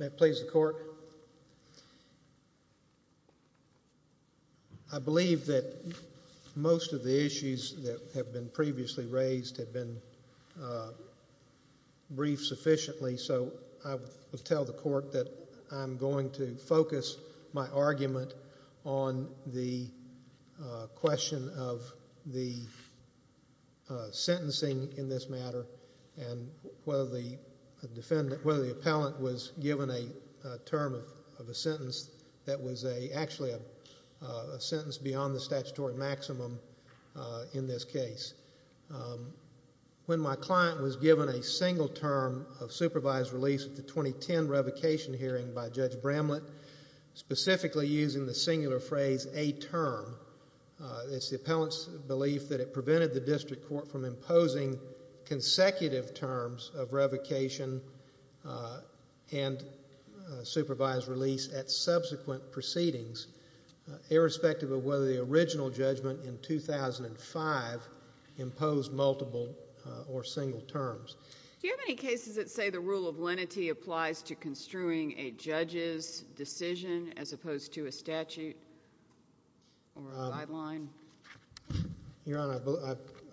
May it please the court, I believe that most of the issues that have been previously raised have been briefed sufficiently so I will tell the court that I'm going to focus my argument on the question of the sentencing in this matter and whether the defendant, whether the appellant was given a term of a sentence that was actually a sentence beyond the statutory maximum in this case. When my client was given a single term of supervised release at the a term, it's the appellant's belief that it prevented the district court from imposing consecutive terms of revocation and supervised release at subsequent proceedings irrespective of whether the original judgment in 2005 imposed multiple or single terms. Do you have any cases that say the rule of lenity applies to construing a judge's decision as opposed to a statute or a guideline? Your Honor,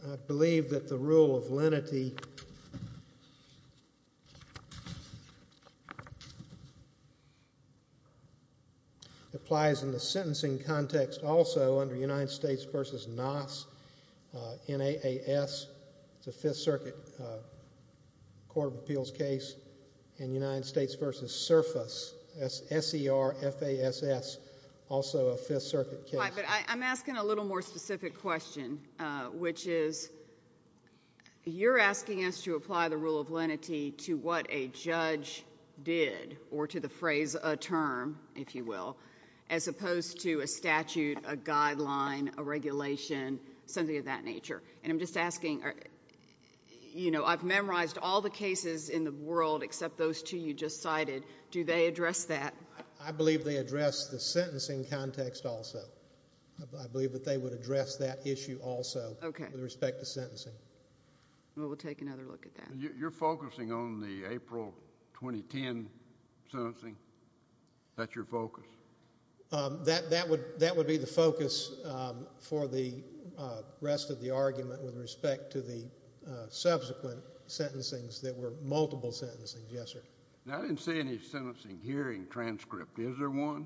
I believe that the rule of lenity applies in the sentencing context also under United States v. Nass, N-A-A-S, it's a Fifth Circuit Court of Appeals case, and United States v. Surface, S-E-R-F-A-S-S, also a Fifth Circuit case. Right, but I'm asking a little more specific question which is, you're asking us to apply the rule of lenity to what a judge did or to the phrase a term, if you will, as opposed to a statute, a guideline, a regulation, something of that nature. And I'm just asking, you know, I've memorized all the cases in the world except those two you just cited. Do they address that? I believe they address the sentencing context also. I believe that they would address that issue also with respect to sentencing. Okay. We'll take another look at that. You're focusing on the April 2010 sentencing? That's your focus? That would be the focus for the rest of the argument with respect to the subsequent sentencings that were multiple sentencing, yes, sir. Now, I didn't see any sentencing hearing transcript. Is there one?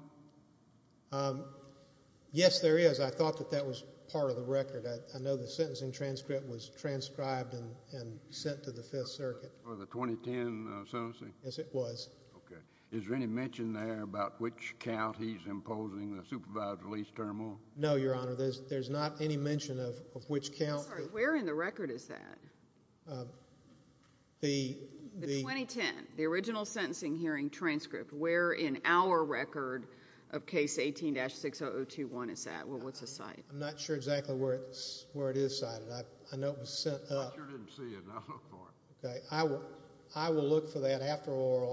Yes, there is. I thought that that was part of the record. I know the sentencing transcript was transcribed and sent to the Fifth Circuit. For the 2010 sentencing? Yes, it was. Okay. Is there any mention there about which count he's imposing, the supervised release terminal? No, Your Honor, there's not any mention of which count. I'm sorry, where in the record is that? The 2010, the original sentencing hearing transcript, where in our record of case 18-60021 is that? Well, what's the site? I'm not sure exactly where it is. It's in the oral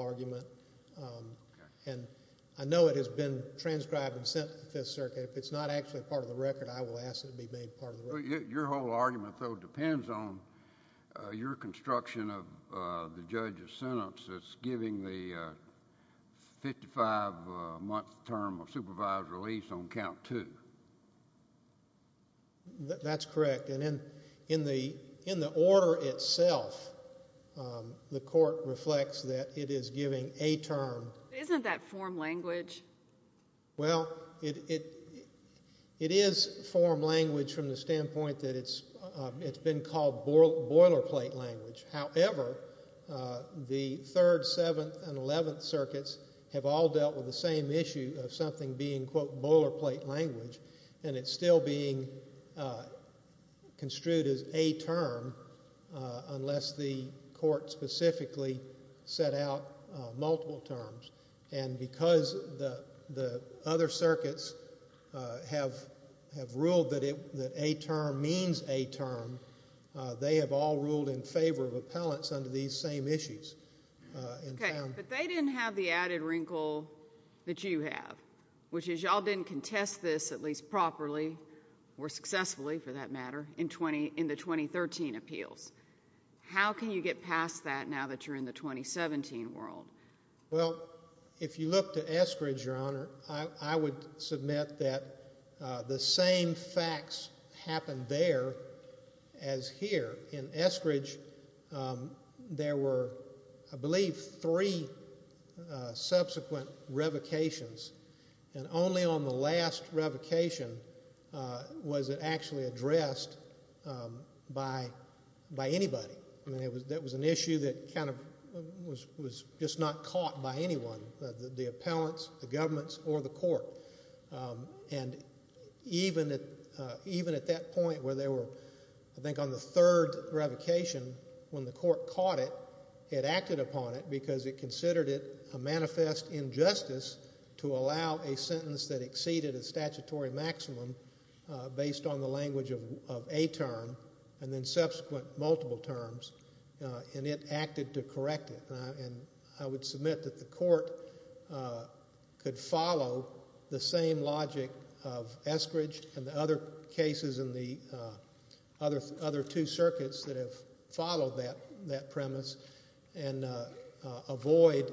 argument. I know it has been transcribed and sent to the Fifth Circuit. If it's not actually part of the record, I will ask that it be made part of the record. Your whole argument though depends on your construction of the judge's sentence that's giving the 55-month term of supervised release on count two. That's correct. And in the order itself, the court reflects that it is giving a term. Isn't that form language? Well, it is form language from the standpoint that it's been called boilerplate language. However, the Third, Seventh, and Eleventh Circuits have all dealt with the same issue of something being, quote, boilerplate language, and it's still being construed as a term unless the court specifically set out multiple terms. And because the other circuits have ruled that a term means a term, they have all ruled in favor of appellants under these same issues. Okay. But they didn't have the added wrinkle that you have, which is y'all didn't contest this at least properly, or successfully for that matter, in the 2013 appeals. How can you get past that now that you're in the 2017 world? Well, if you look to Estridge, Your Honor, I would submit that the same facts happened there as here. In Estridge, there were, I believe, three subsequent revocations, and only on the last revocation was it actually addressed by anybody. That was an issue that kind of was just not caught by anyone, the appellants, the governments, or the court. And even at that point where they were, I think, on the third revocation, when the court caught it, it acted upon it because it considered it a manifest injustice to allow a sentence that exceeded a statutory maximum based on the language of a term, and then subsequent multiple terms, and it acted to correct it. And I would submit that the court could follow the same logic of Estridge and the other cases in the other two circuits that have followed that premise and avoid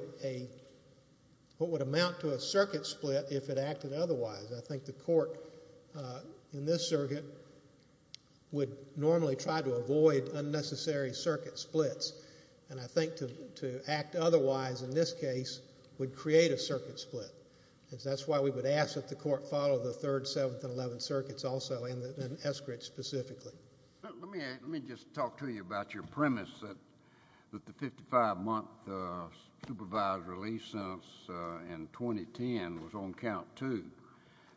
what would amount to a circuit split if it acted otherwise. I think the court in this circuit would normally try to avoid unnecessary circuit splits, and I think to act otherwise in this case would create a circuit split. That's why we would ask that the court follow the third, seventh, and eleventh circuits also and Estridge specifically. Let me just talk to you about your premise that the 55-month supervised release sentence in 2010 was on count two.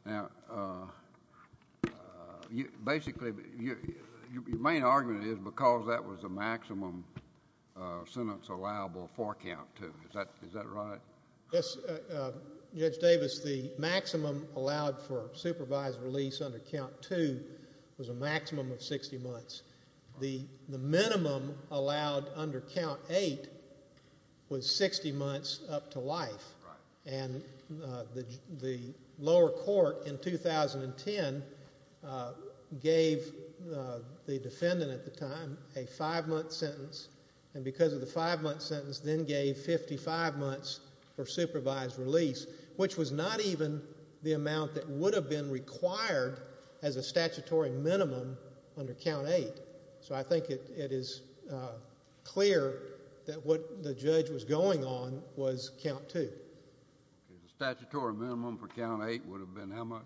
Now, basically, your main argument is because that was the maximum sentence allowable for count two. Is that right? Yes, Judge Davis, the maximum allowed for supervised release under count two was a maximum of 60 months. The minimum allowed under count eight was 60 months up to life, and the lower court in 2010 gave the defendant at the time a five-month sentence, and because of the five-month sentence, then gave 55 months for supervised release, which was not even the amount that would have been required as a statutory minimum under count eight. So I think it is clear that what the judge was going on was count two. Statutory minimum for count eight would have been how much?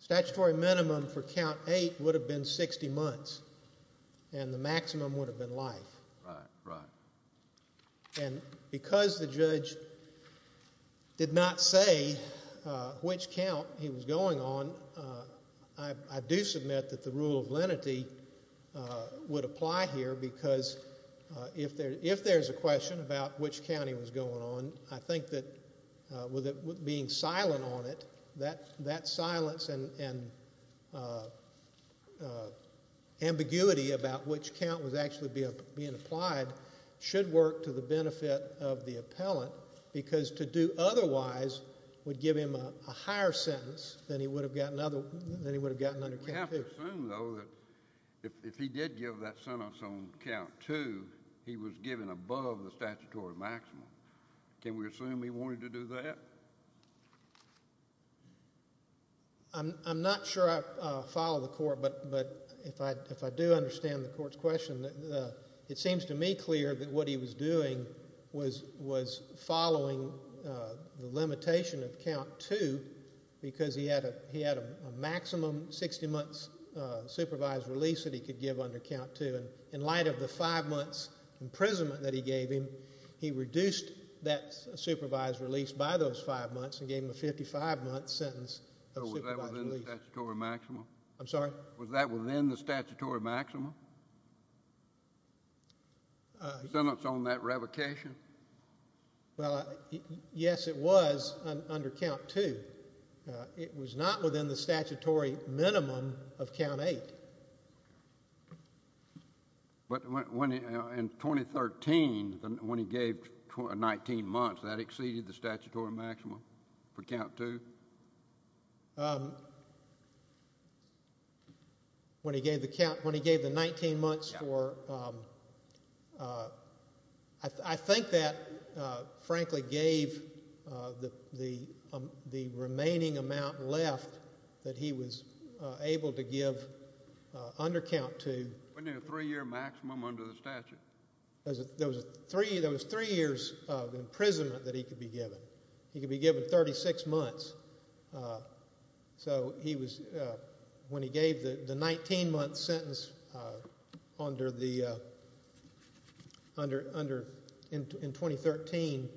Statutory minimum for count eight would have been 60 months, and the maximum would have been life. And because the judge did not say which count he was going on, I do submit that the rule of lenity would apply here, because if there is a question about which county was going on, I think that with it being silent on it, that silence and ambiguity about which count was actually being applied should work to the benefit of the appellant, because to do otherwise would give him a higher sentence than he would have gotten under count two. We have to assume, though, that if he did give that sentence on count two, he was given above the statutory maximum. Can we assume he wanted to do that? I am not sure I follow the court, but if I do understand the court's question, it seems to me clear that what he was doing was following the limitation of count two, because he had a maximum 60 months supervised release that he could give under count two, and in light of the five months imprisonment that he gave him, he reduced that supervised release by those five months and gave him a 55-month sentence of supervised release. Was that within the statutory maximum? I'm sorry? Was that within the statutory maximum? Sentence on that revocation? Well, yes, it was under count two. It was not within the statutory minimum of count eight. But in 2013, when he gave 19 months, that exceeded the statutory maximum? When he gave the 19 months for... I think that, frankly, gave the remaining amount left that he was able to give under count two... Within a three-year maximum under the statute? There was three years of imprisonment that he could be given. He could be given 36 months. So when he gave the 19-month sentence in 2013,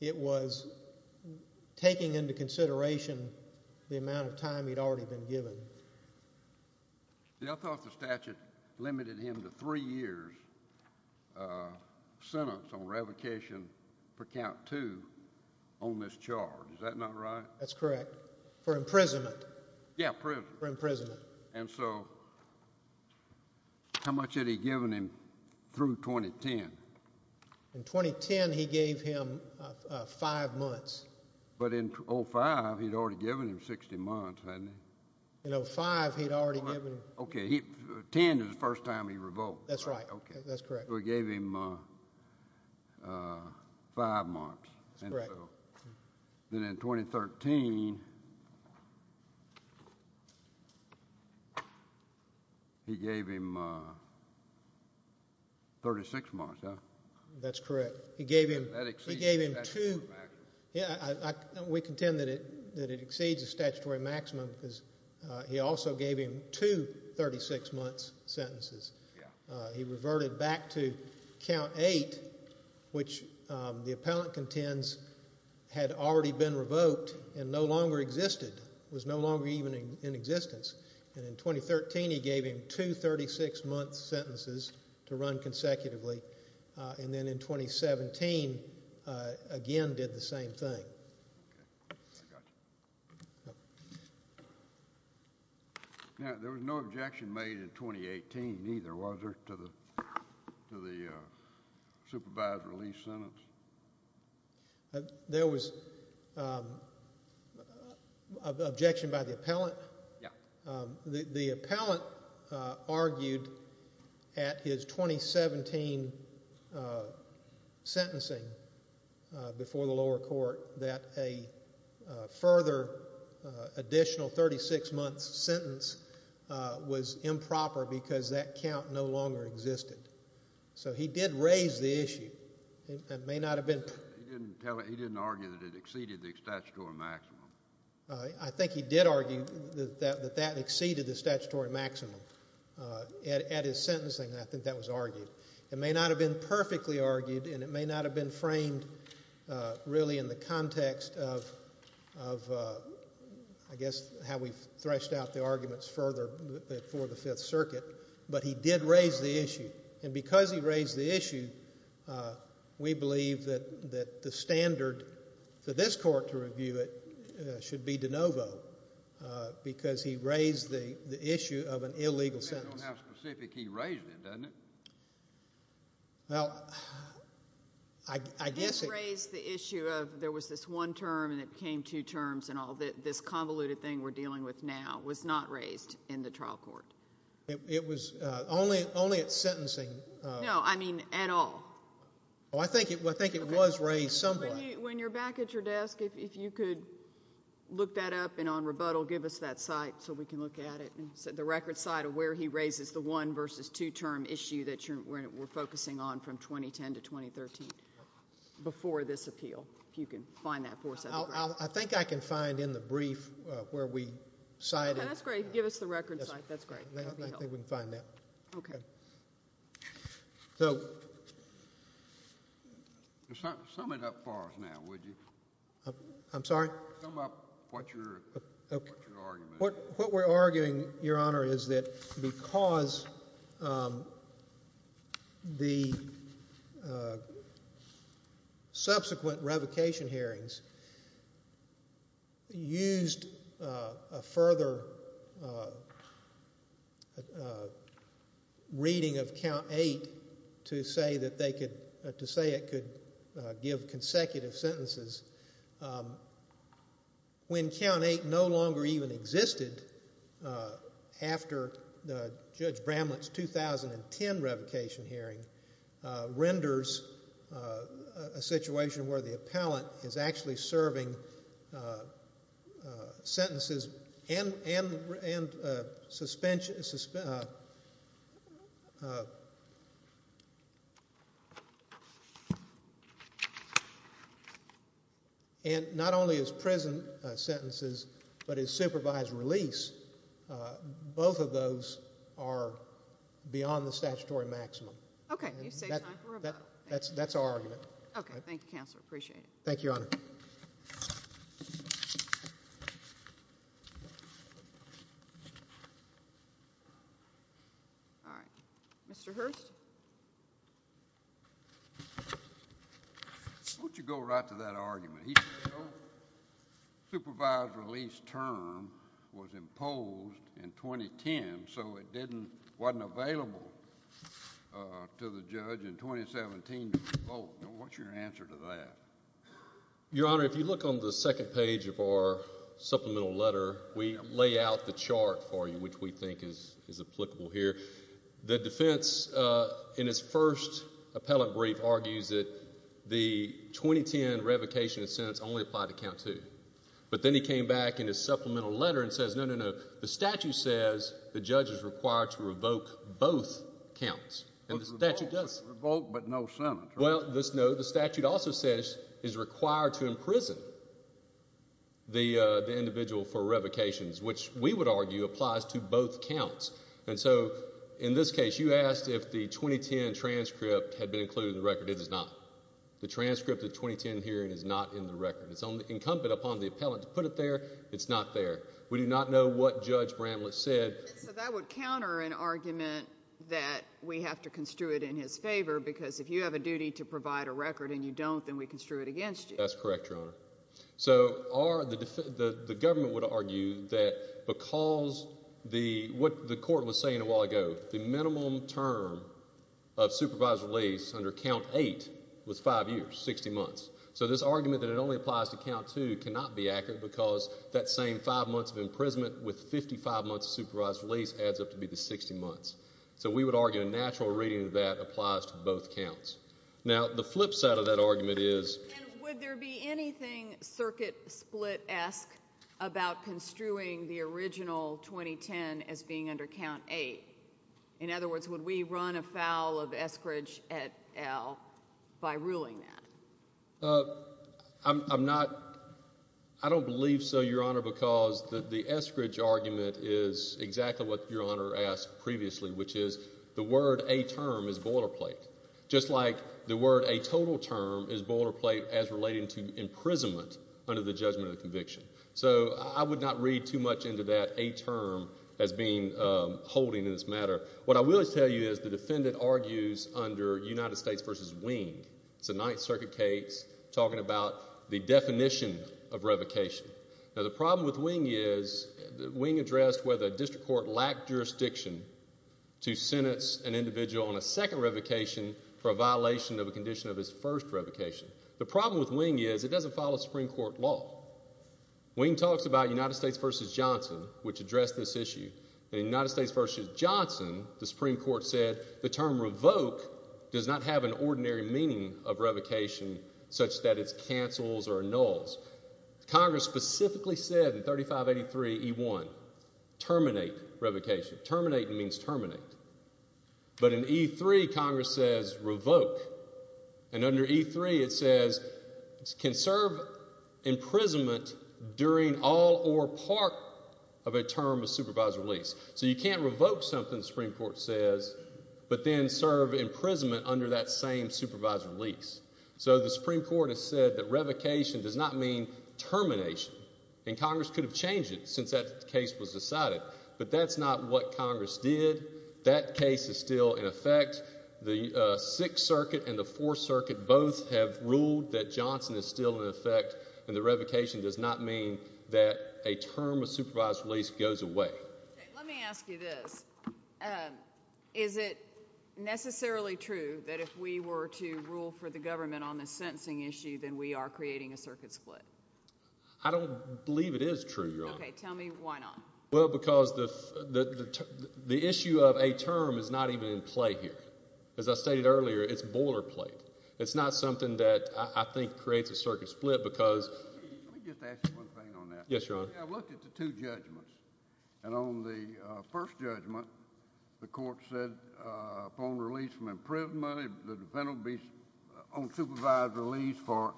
it was taking into consideration the amount of time he'd already been given. Yeah, I thought the statute limited him to three years' sentence on revocation per count two on this charge. Is that not right? That's correct. For imprisonment. Yeah, prison. For imprisonment. And so how much had he given him through 2010? In 2010, he gave him five months. But in 2005, he'd already given him 60 months, hadn't he? In 2005, he'd already given him... Okay, 10 is the first time he revoked. That's right. That's correct. So he gave him five months. That's correct. Then in 2013, he gave him 36 months, huh? That's correct. That exceeds the statutory maximum. Yeah, we contend that it exceeds the statutory maximum because he also gave him two 36-month sentences. He reverted back to count eight, which the appellant contends had already been revoked and no longer existed, was no longer even in existence. And in 2013, he gave him two 36-month sentences to run consecutively. And then in 2017, again, did the same thing. Okay, I got you. Now, there was no objection made in 2018 either, was there, to the supervised release sentence? There was objection by the appellant. Yeah. The appellant argued at his 2017 sentencing before the lower court that a further additional 36-month sentence was improper because that count no longer existed. So he did raise the issue. It may not have been... He didn't argue that it exceeded the statutory maximum. I think he did argue that that exceeded the statutory maximum at his sentencing. I think that was argued. It may not have been perfectly argued and it may not have been framed really in the context of, I guess, how we've threshed out the arguments further before the Fifth Circuit, but he did raise the issue. And because he raised the issue, we believe that the standard for this court to review it should be de novo because he raised the issue of an illegal sentence. I don't know how specific he raised it, doesn't it? Well, I guess... He raised the issue of there was this one term and it became two terms and all. This convoluted thing we're dealing with now was not raised in the trial court. It was only at sentencing... No, I mean at all. I think it was raised somewhere. When you're back at your desk, if you could look that up and on rebuttal, give us that site so we can look at it, the record site of where he raises the one versus two term issue that we're focusing on from 2010 to 2013 before this appeal, if you can find that for us. I think I can find in the brief where we cited... That's great. Give us the record site. I think we can find that. Okay. So... Sum it up for us now, would you? I'm sorry? Sum up what your argument is. What we're arguing, Your Honor, is that because the subsequent revocation hearings used a further reading of Count 8 to say it could give consecutive sentences, when Count 8 no longer even existed after Judge Bramlett's 2010 revocation hearing, renders a situation where the appellant is actually serving sentences and not only is present sentences, but is supervised release, both of those are beyond the statutory maximum. Okay. You say time for a vote. That's our argument. Okay. Thank you, Counselor. Appreciate it. Thank you, Your Honor. All right. Mr. Hurst? Why don't you go right to that argument? He said no supervised release term was imposed in 2010, so it wasn't available to the judge in 2017 to vote. What's your answer to that? Your Honor, if you look on the second page of our supplemental letter, we lay out the chart for you, which we think is applicable here. The defense in its first appellant brief argues that the 2010 revocation sentence only applied to Count 2. But then he came back in his supplemental letter and says, no, no, no, the statute says the judge is required to revoke both counts, and the statute does. Revoke but no sentence. Well, the statute also says it's required to imprison the individual for revocations, which we would argue applies to both counts. And so in this case, you asked if the 2010 transcript had been included in the record. It is not. The transcript of the 2010 hearing is not in the record. It's incumbent upon the appellant to put it there. It's not there. We do not know what Judge Bramlett said. So that would counter an argument that we have to construe it in his favor because if you have a duty to provide a record and you don't, then we construe it against you. That's correct, Your Honor. So the government would argue that because what the court was saying a while ago, that the minimum term of supervised release under count 8 was 5 years, 60 months. So this argument that it only applies to count 2 cannot be accurate because that same 5 months of imprisonment with 55 months of supervised release adds up to be the 60 months. So we would argue a natural reading of that applies to both counts. Now, the flip side of that argument is... And would there be anything circuit-split-esque about construing the original 2010 as being under count 8? In other words, would we run afoul of Eskridge et al. by ruling that? I'm not... I don't believe so, Your Honor, because the Eskridge argument is exactly what Your Honor asked previously, which is the word a term is boilerplate. Just like the word a total term is boilerplate as relating to imprisonment under the judgment of conviction. So I would not read too much into that a term as being holding in this matter. What I will tell you is the defendant argues under United States v. Wing. It's a Ninth Circuit case talking about the definition of revocation. Now, the problem with Wing is... Wing addressed whether a district court lacked jurisdiction to sentence an individual on a second revocation for a violation of a condition of his first revocation. The problem with Wing is it doesn't follow Supreme Court law. Wing talks about United States v. Johnson, which addressed this issue. In United States v. Johnson, the Supreme Court said the term revoke does not have an ordinary meaning of revocation such that it cancels or annuls. Congress specifically said in 3583E1 terminate revocation. Terminate means terminate. But in E3, Congress says revoke. And under E3, it says it can serve imprisonment during all or part of a term of supervised release. So you can't revoke something the Supreme Court says but then serve imprisonment under that same supervised release. So the Supreme Court has said that revocation does not mean termination. And Congress could have changed it since that case was decided. But that's not what Congress did. That case is still in effect. The Sixth Circuit and the Supreme Court of Wisconsin is still in effect. And the revocation does not mean that a term of supervised release goes away. Let me ask you this. Is it necessarily true that if we were to rule for the government on this sentencing issue, then we are creating a circuit split? I don't believe it is true, Your Honor. Tell me why not. The issue of a term is not even in play here. As I stated earlier, it's boilerplate. It's not something that I think creates a circuit split because Let me just ask you one thing on that. Yes, Your Honor. I've looked at the two judgments and on the first judgment the court said upon release from imprisonment the defendant will be on supervised release for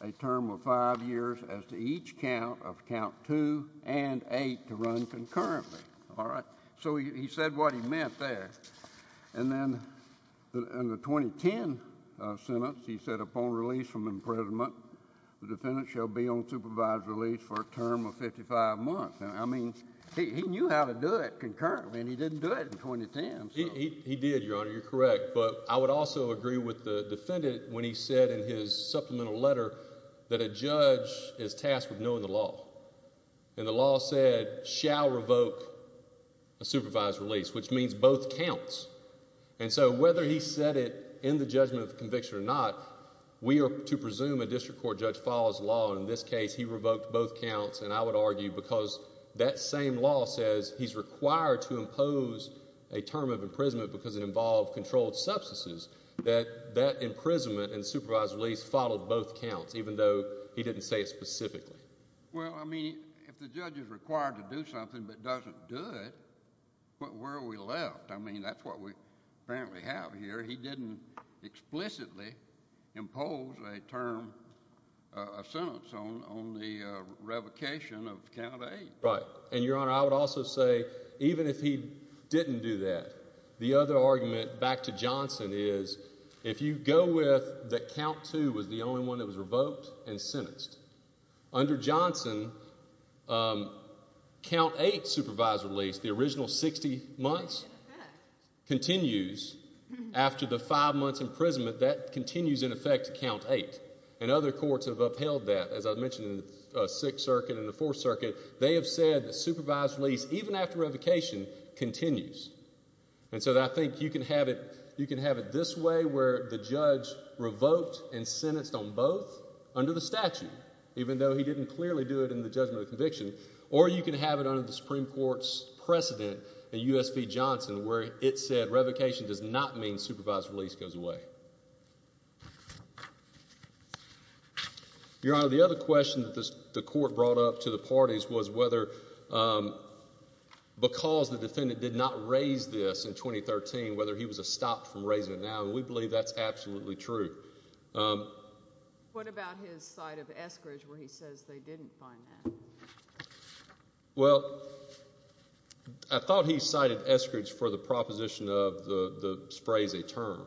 a term of five years as to each count of count two and eight to run concurrently. So he said what he meant there. And then in the 2010 sentence he said upon release from imprisonment the defendant shall be on supervised release for a term of 55 months. I mean he knew how to do it concurrently and he didn't do it in 2010. He did, Your Honor. You're correct. But I would also agree with the defendant when he said in his supplemental letter that a judge is tasked with knowing the law. And the law said shall revoke a supervised release, which means both counts. And so whether he said it in the judgment of conviction or not, we are to presume a district court judge follows the law. In this case he revoked both counts and I would argue because that same law says he's required to impose a term of imprisonment because it involved controlled substances. That imprisonment and supervised release followed both counts, even though he didn't say it specifically. Well, I mean, if the judge is required to do something but doesn't do it, where are we left? I mean, that's what we apparently have here. He didn't explicitly impose a term of sentence on the revocation of count 8. Right. And Your Honor, I would also say even if he didn't do that, the other argument back to Johnson is if you go with that count 2 was the only one that was revoked and sentenced, under Johnson count 8 supervised release, the original 60 months, continues after the 5 months imprisonment, that continues in effect count 8. And other courts have upheld that. As I mentioned in the 6th Circuit and the 4th Circuit, they have said that supervised release, even after revocation, continues. And so I think you can have it this way where the judge revoked and sentenced on both under the statute, even though he didn't clearly do it in the judgment of conviction, or you can have it under the Supreme Court's precedent in U.S. v. Johnson, where it said revocation does not mean supervised release goes away. Your Honor, the other question that the court brought up to the parties was whether because the defendant did not raise this in 2013, whether he was stopped from raising it now, and we believe that's absolutely true. What about his side of Eskridge where he says they didn't find that? Well, I thought he cited Eskridge for the proposition of the sprays a term.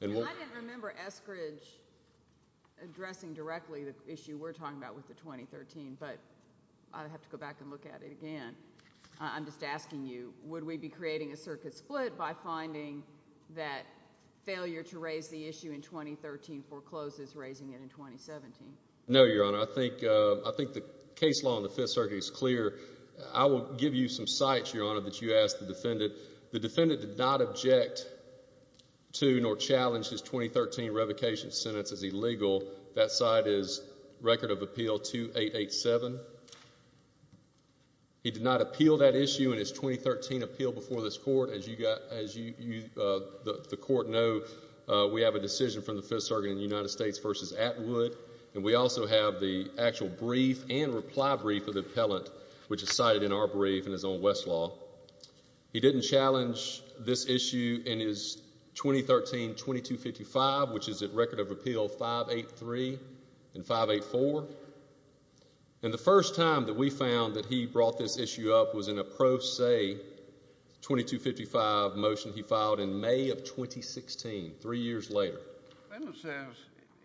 I didn't remember Eskridge addressing directly the issue we're talking about with the 2013, but I'll have to go back and look at it again. I'm just asking you, would we be creating a circuit split by finding that failure to raise the issue in 2013 forecloses raising it in 2017? No, Your Honor. I think the case law in the Fifth Circuit is clear. I will give you some sites, Your Honor, that you asked the defendant. The defendant did not object to nor challenge his 2013 revocation sentence as illegal. That site is Record of Appeal 2887. He did not appeal that issue in his 2013 appeal before this court. As you, the court know, we have a decision from the Fifth Circuit in the United States versus Atwood, and we also have the actual brief and reply brief of the appellant, which is cited in our brief in his own West Law. He didn't challenge this issue in his 2013 2255, which is at Record of Appeal 583 and 584. And the first time that we found that he brought this issue up was in a pro se 2255 motion he filed in May of 2016, three years later. The defendant says,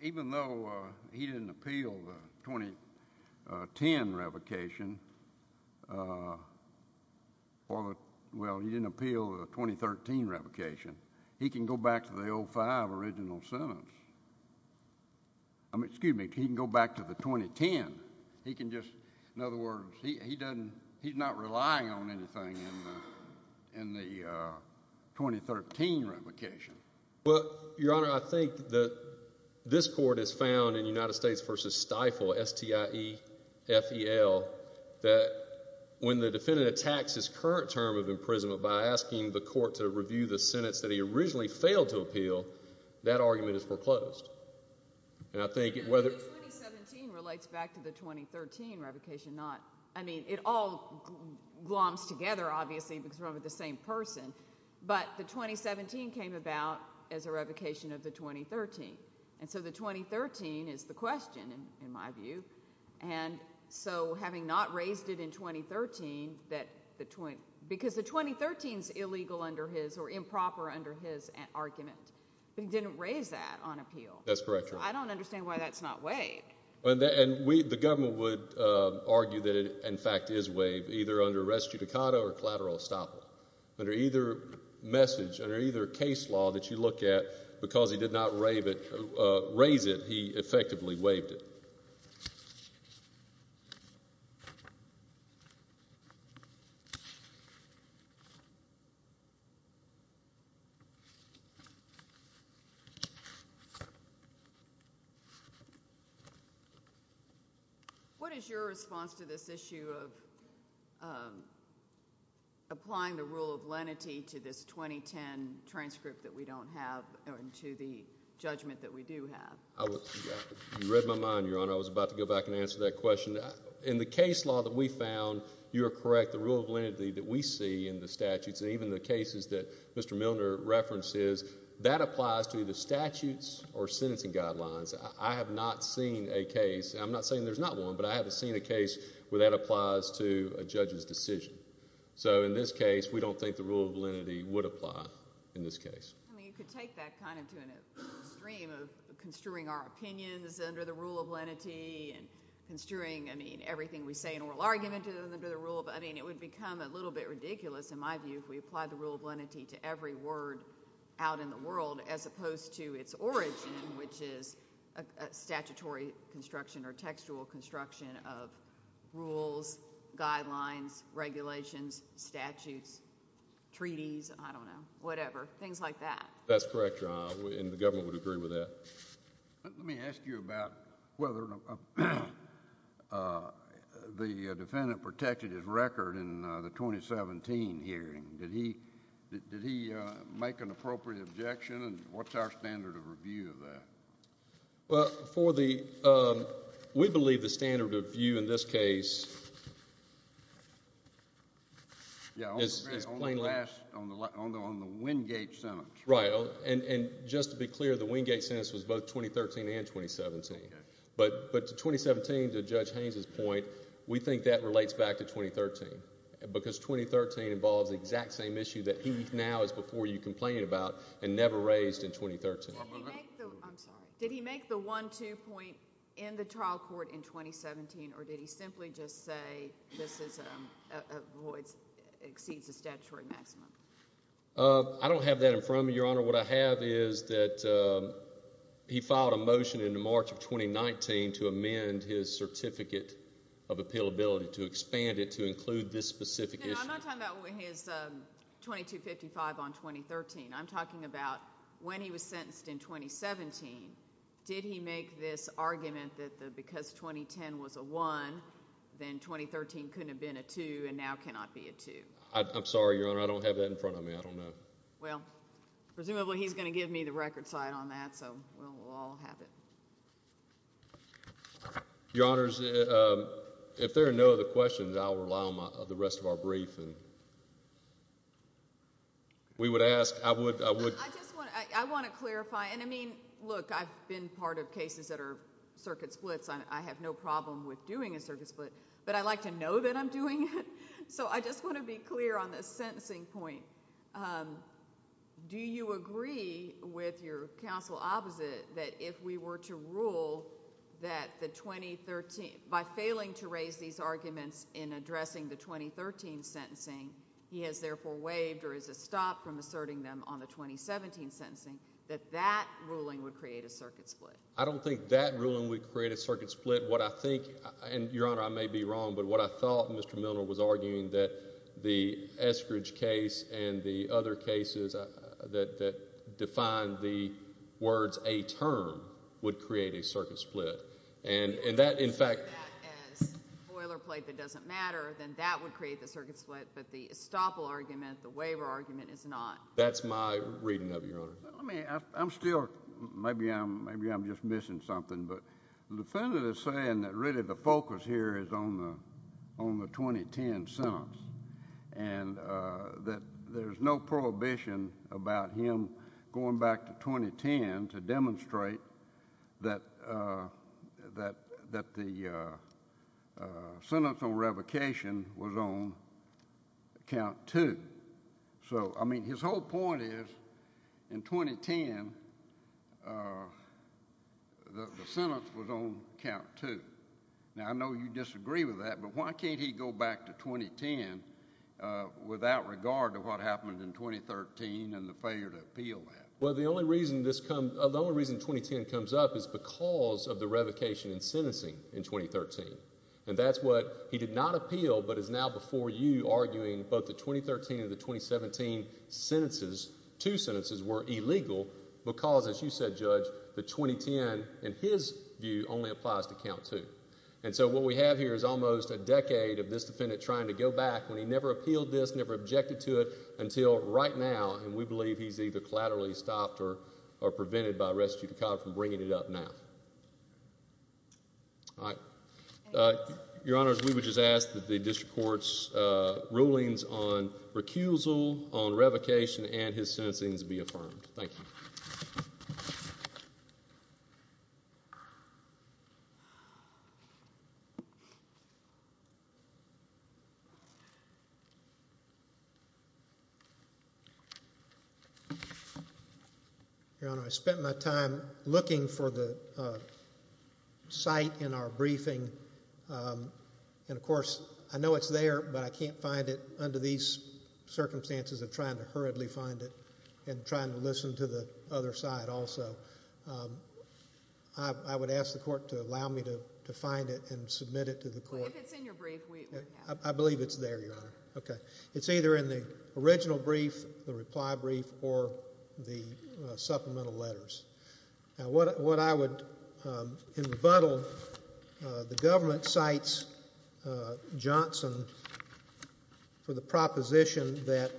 even though he didn't appeal the 2010 revocation, well, he didn't appeal the 2013 revocation, he can go back to the 05 original sentence. Excuse me, he can go back to the 2010. He can just, in other words, he's not relying on anything in the 2013 revocation. Well, Your Honor, I think that this court has found in United States versus Stiefel, S-T-I-E-F-E-L, that when the defendant attacks his current term of imprisonment by asking the court to review the sentence that he originally failed to appeal, that argument is foreclosed. 2017 relates back to the I mean, it all gloms together, obviously, because we're under the same person, but the 2017 came about as a revocation of the 2013, and so the 2013 is the question, in my view, and so having not raised it in 2013 that the, because the 2013's illegal under his or improper under his argument, but he didn't raise that on appeal. That's correct, Your Honor. I don't understand why that's not weighed. And we, the court, in fact, is weighed either under res judicata or collateral estoppel. Under either message, under either case law that you look at, because he did not raise it, he effectively waived it. What is your response to this issue of applying the rule of lenity to this 2010 transcript that we don't have and to the judgment that we do have? You read my mind, Your Honor. I was about to go back and answer that question. In the case law that we found, you are correct, the rule of lenity that we see in the statutes, and even the cases that Mr. Milner references, that applies to the statutes or sentencing guidelines. I have not seen a case, and I'm not saying there's not one, but I haven't seen a case where that applies to a judge's decision. So, in this case, we don't think the rule of lenity would apply in this case. I mean, you could take that kind of to a stream of construing our opinions under the rule of lenity and construing, I mean, everything we say in oral argument under the rule of, I mean, it would become a little bit ridiculous in my view if we applied the rule of lenity to every word out in the world, as opposed to its origin, which is a statutory construction or textual construction of rules, guidelines, regulations, statutes, treaties, I don't know, whatever. Things like that. That's correct, Your Honor, and the government would agree with that. Let me ask you about whether the defendant protected his record in the 2017 hearing. Did he make an appropriate objection, and what's our standard of review of that? We believe the standard of view in this case is plainly on the Wingate sentence. Right, and just to be clear, the Wingate sentence was both 2013 and 2017, but 2017, to Judge Haynes' point, we think that relates back to 2013, because 2013 involves the exact same issue that he now is before you complaining about and never raised in 2013. Did he make the one-two point in the trial court in 2017, or did he simply just say this exceeds the statutory maximum? I don't have that in front of me, Your Honor. What I have is that he filed a motion in March of 2019 to amend his certificate of appealability, to expand it, to include this specific issue. No, I'm not talking about his 2255 on 2013. I'm talking about when he was sentenced in 2017. Did he make this argument that because 2010 was a one, then 2013 couldn't have been a two, and now it cannot be a two? I'm sorry, Your Honor. I don't have that in front of me. I don't know. Well, presumably he's going to give me the record side on that, so we'll all have it. Your Honors, if there are no other questions, I'll allow the rest of our brief, and we would ask, I would I want to clarify, and I mean, look, I've been part of cases that are circuit splits, and I have no problem with doing a circuit split, but I like to know that I'm doing it, so I just want to be clear on this sentencing point. Do you agree with your counsel opposite that if we were to rule that the 2013, by failing to raise these arguments in addressing the 2013 sentencing, he has therefore waived or is stopped from asserting them on the 2017 sentencing, that that ruling would create a circuit split? I don't think that ruling would create a circuit split. What I thought Mr. Milner was arguing that the Eskridge case and the other cases that define the words a term would create a circuit split, and that in fact as boilerplate that doesn't matter, then that would create the circuit split, but the estoppel argument, the waiver argument is not. That's my reading of it, Your Honor. I mean, I'm still maybe I'm just missing something, but the defendant is saying that really the focus here is on the 2010 sentence, and that there's no prohibition about him going back to 2010 to demonstrate that the sentence on revocation was on count two. So, I mean, his whole point is in 2010 the sentence was on count two. Now, I know you disagree with that, but why can't he go back to 2010 without regard to what happened in 2013 and the failure to appeal that? Well, the only reason this comes, the only reason 2010 comes up is because of the revocation in sentencing in 2013, and that's what he did not appeal, but is now before you arguing both the 2013 and the 2017 sentences, two sentences were illegal because as you said, Judge, the 2010, in his view, only applies to count two. And so what we have here is almost a decade of this defendant trying to go back when he never appealed this, never objected to it until right now, and we believe he's either collaterally stopped or prevented by res judicata from bringing it up now. All right. Your Honor, we would just ask that the district court's rulings on recusal, on revocation, and his sentencing be affirmed. Thank you. Your Honor, I spent my time looking for the site in our briefing, and of course, I know it's there, but I can't find it under these circumstances of trying to hurriedly find it and trying to listen to the other side also. I would ask the court to allow me to find it and submit it to the court. I believe it's there, Your Honor. Okay. It's either in the original brief, the reply brief, or the supplemental letters. Now what I would in rebuttal, the government cites Johnson for the proposition that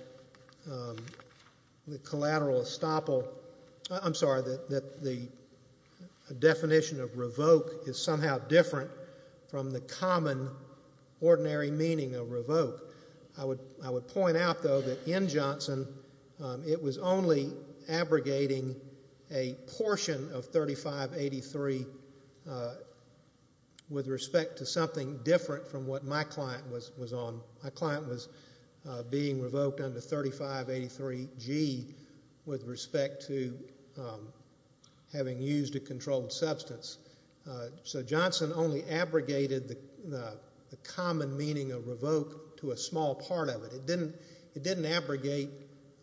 the collateral estoppel I'm sorry, that the definition of revoke is somehow different from the common ordinary meaning of revoke. I would point out, though, that in Johnson, it was only abrogating a portion of 3583 with respect to something different from what my client was on. My client was being revoked under 3583G with respect to having used a controlled substance. So Johnson only abrogated the common meaning of revoke to a small part of it. It didn't abrogate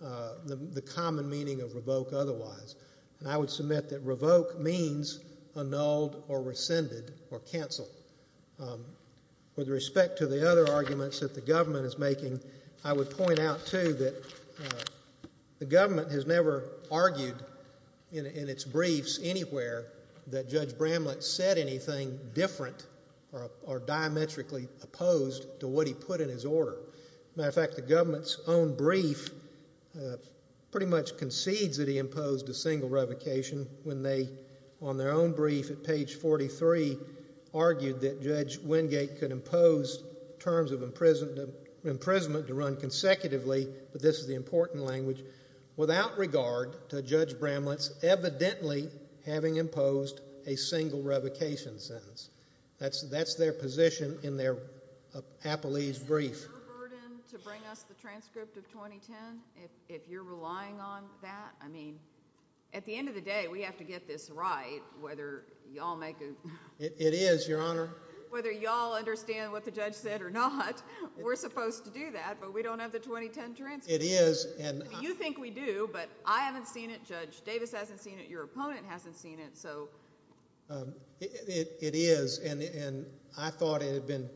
the common meaning of revoke otherwise. I would submit that revoke means annulled or rescinded or canceled. With respect to the other arguments that the government is making, I would point out, too, that the government has never argued in its briefs anywhere that Judge Bramlett said anything different or diametrically opposed to what he put in his order. Matter of fact, the government's own brief pretty much concedes that he imposed a single revocation when they, on their own brief at page 43, argued that Judge Wingate could impose terms of imprisonment to run consecutively, but this is the important language, without regard to Judge Bramlett's evidently having imposed a single revocation sentence. That's their position in their appellee's brief. Is it your burden to bring us the transcript of 2010 if you're relying on that? I mean, at the end of the day, we have to get this right, whether y'all make a... It is, Your Honor. Whether y'all understand what the judge said or not, we're supposed to do that, but we don't have the 2010 transcript. You think we do, but I haven't seen it, Judge. Davis hasn't seen it. Your opponent hasn't seen it, so... It is, and I thought it had been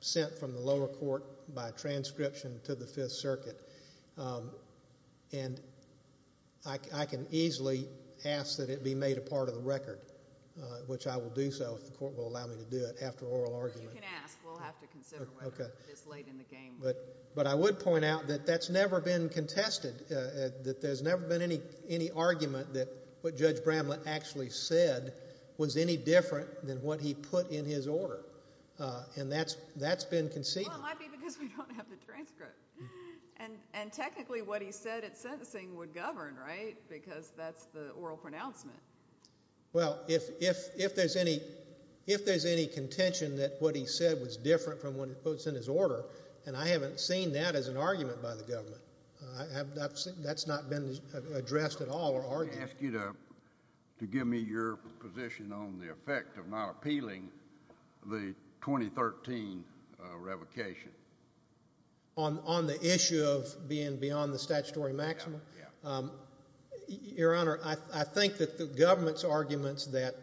sent from the lower court by transcription to the 5th Circuit, and I can easily ask that it be made a part of the record, which I will do so if the court will allow me to do it after oral argument. You can ask. We'll have to consider whether it's late in the game. But I would point out that that's never been contested, that there's never been any argument that what Judge Bramlett actually said was any different than what he put in his order, and that's been conceded. Well, it might be because we don't have the transcript, and technically what he said at sentencing would govern, right? Because that's the oral pronouncement. Well, if there's any contention that what he said was different from what was in his order, and I haven't seen that as an argument by the government. That's not been addressed at all or argued. I ask you to give me your position on the effect of not appealing the 2013 revocation. On the issue of being beyond the statutory maximum? Your Honor, I think that the government's arguments that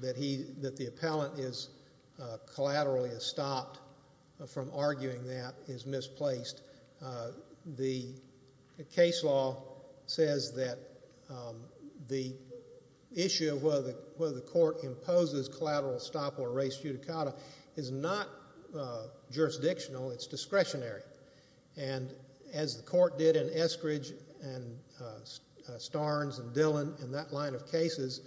the appellant is collaterally stopped from arguing that is misplaced. The case law says that the issue of whether the court imposes collateral stop or res judicata is not jurisdictional. It's discretionary. As the court did in Eskridge and Starnes and Dillon and that line of cases,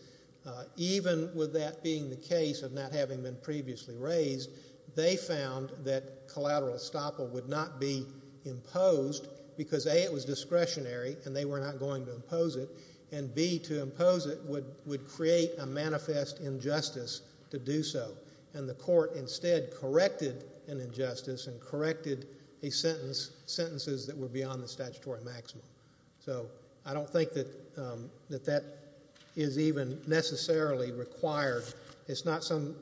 even with that being the case of not having been previously raised, they found that collateral stop would not be imposed because A, it was discretionary and they were not going to impose it, and B, to impose it would create a manifest injustice to do so. The court instead corrected an injustice and corrected a sentence, sentences that were beyond the statutory maximum. I don't think that that is even necessarily required. It's not some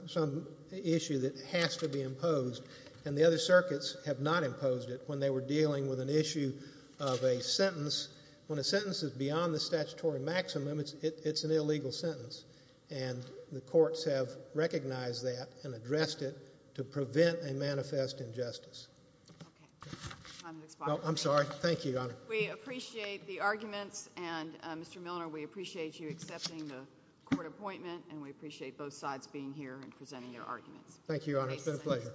issue that has to be imposed. The other circuits have not imposed it when they were dealing with an issue of a sentence. When a sentence is beyond the statutory maximum, it's an illegal sentence. The courts have recognized that and addressed it to prevent a manifest injustice. I'm sorry. Thank you, Your Honor. We appreciate the arguments and Mr. Milner, we appreciate you accepting the court appointment and we appreciate both sides being here and presenting their arguments. Thank you, Your Honor. It's been a pleasure.